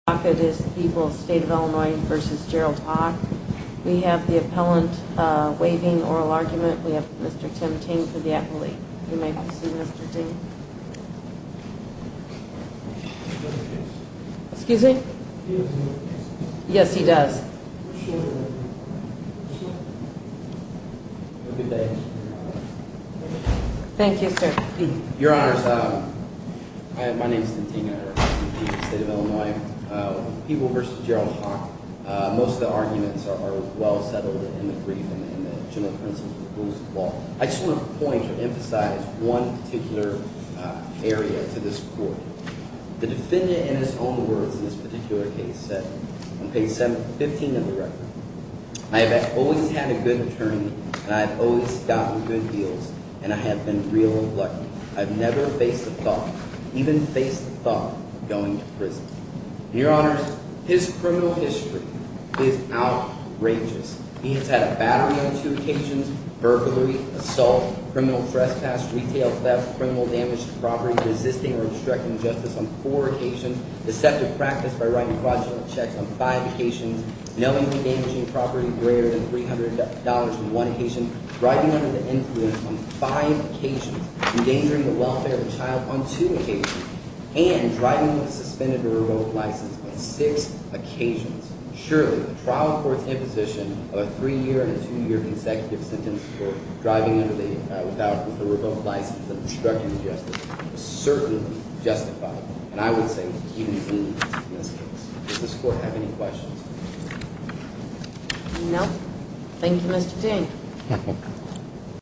It is People's State of Illinois v. Gerald Hock. We have the appellant waiving oral argument. We have Mr. Tim Ting for the appellate. You may proceed, Mr. Ting. Excuse me? Yes, he does. Thank you, sir. Your Honors, my name is Tim Ting. I represent People's State of Illinois. With People v. Gerald Hock, most of the arguments are well settled in the brief and the general principles of the Rules of Law. I just want to point or emphasize one particular area to this Court. The defendant, in his own words in this particular case, said on page 15 of the record, I have always had a good attorney, and I have always gotten good deals, and I have been real lucky. I have never faced the thought, even faced the thought of going to prison. Your Honors, his criminal history is outrageous. He has had a battery on two occasions, burglary, assault, criminal trespass, retail theft, criminal damage to property, resisting or obstructing justice on four occasions, deceptive practice by writing fraudulent checks on five occasions, knowingly damaging property greater than $300 on one occasion, driving under the influence on five occasions, endangering the welfare of a child on two occasions, and driving with a suspended or revoked license on six occasions. Surely, the trial court's imposition of a three-year and a two-year consecutive sentence for driving with a revoked license and obstructing justice is certainly justified. And I would say he needs this case. Does this Court have any questions? No. Thank you, Mr. Dean.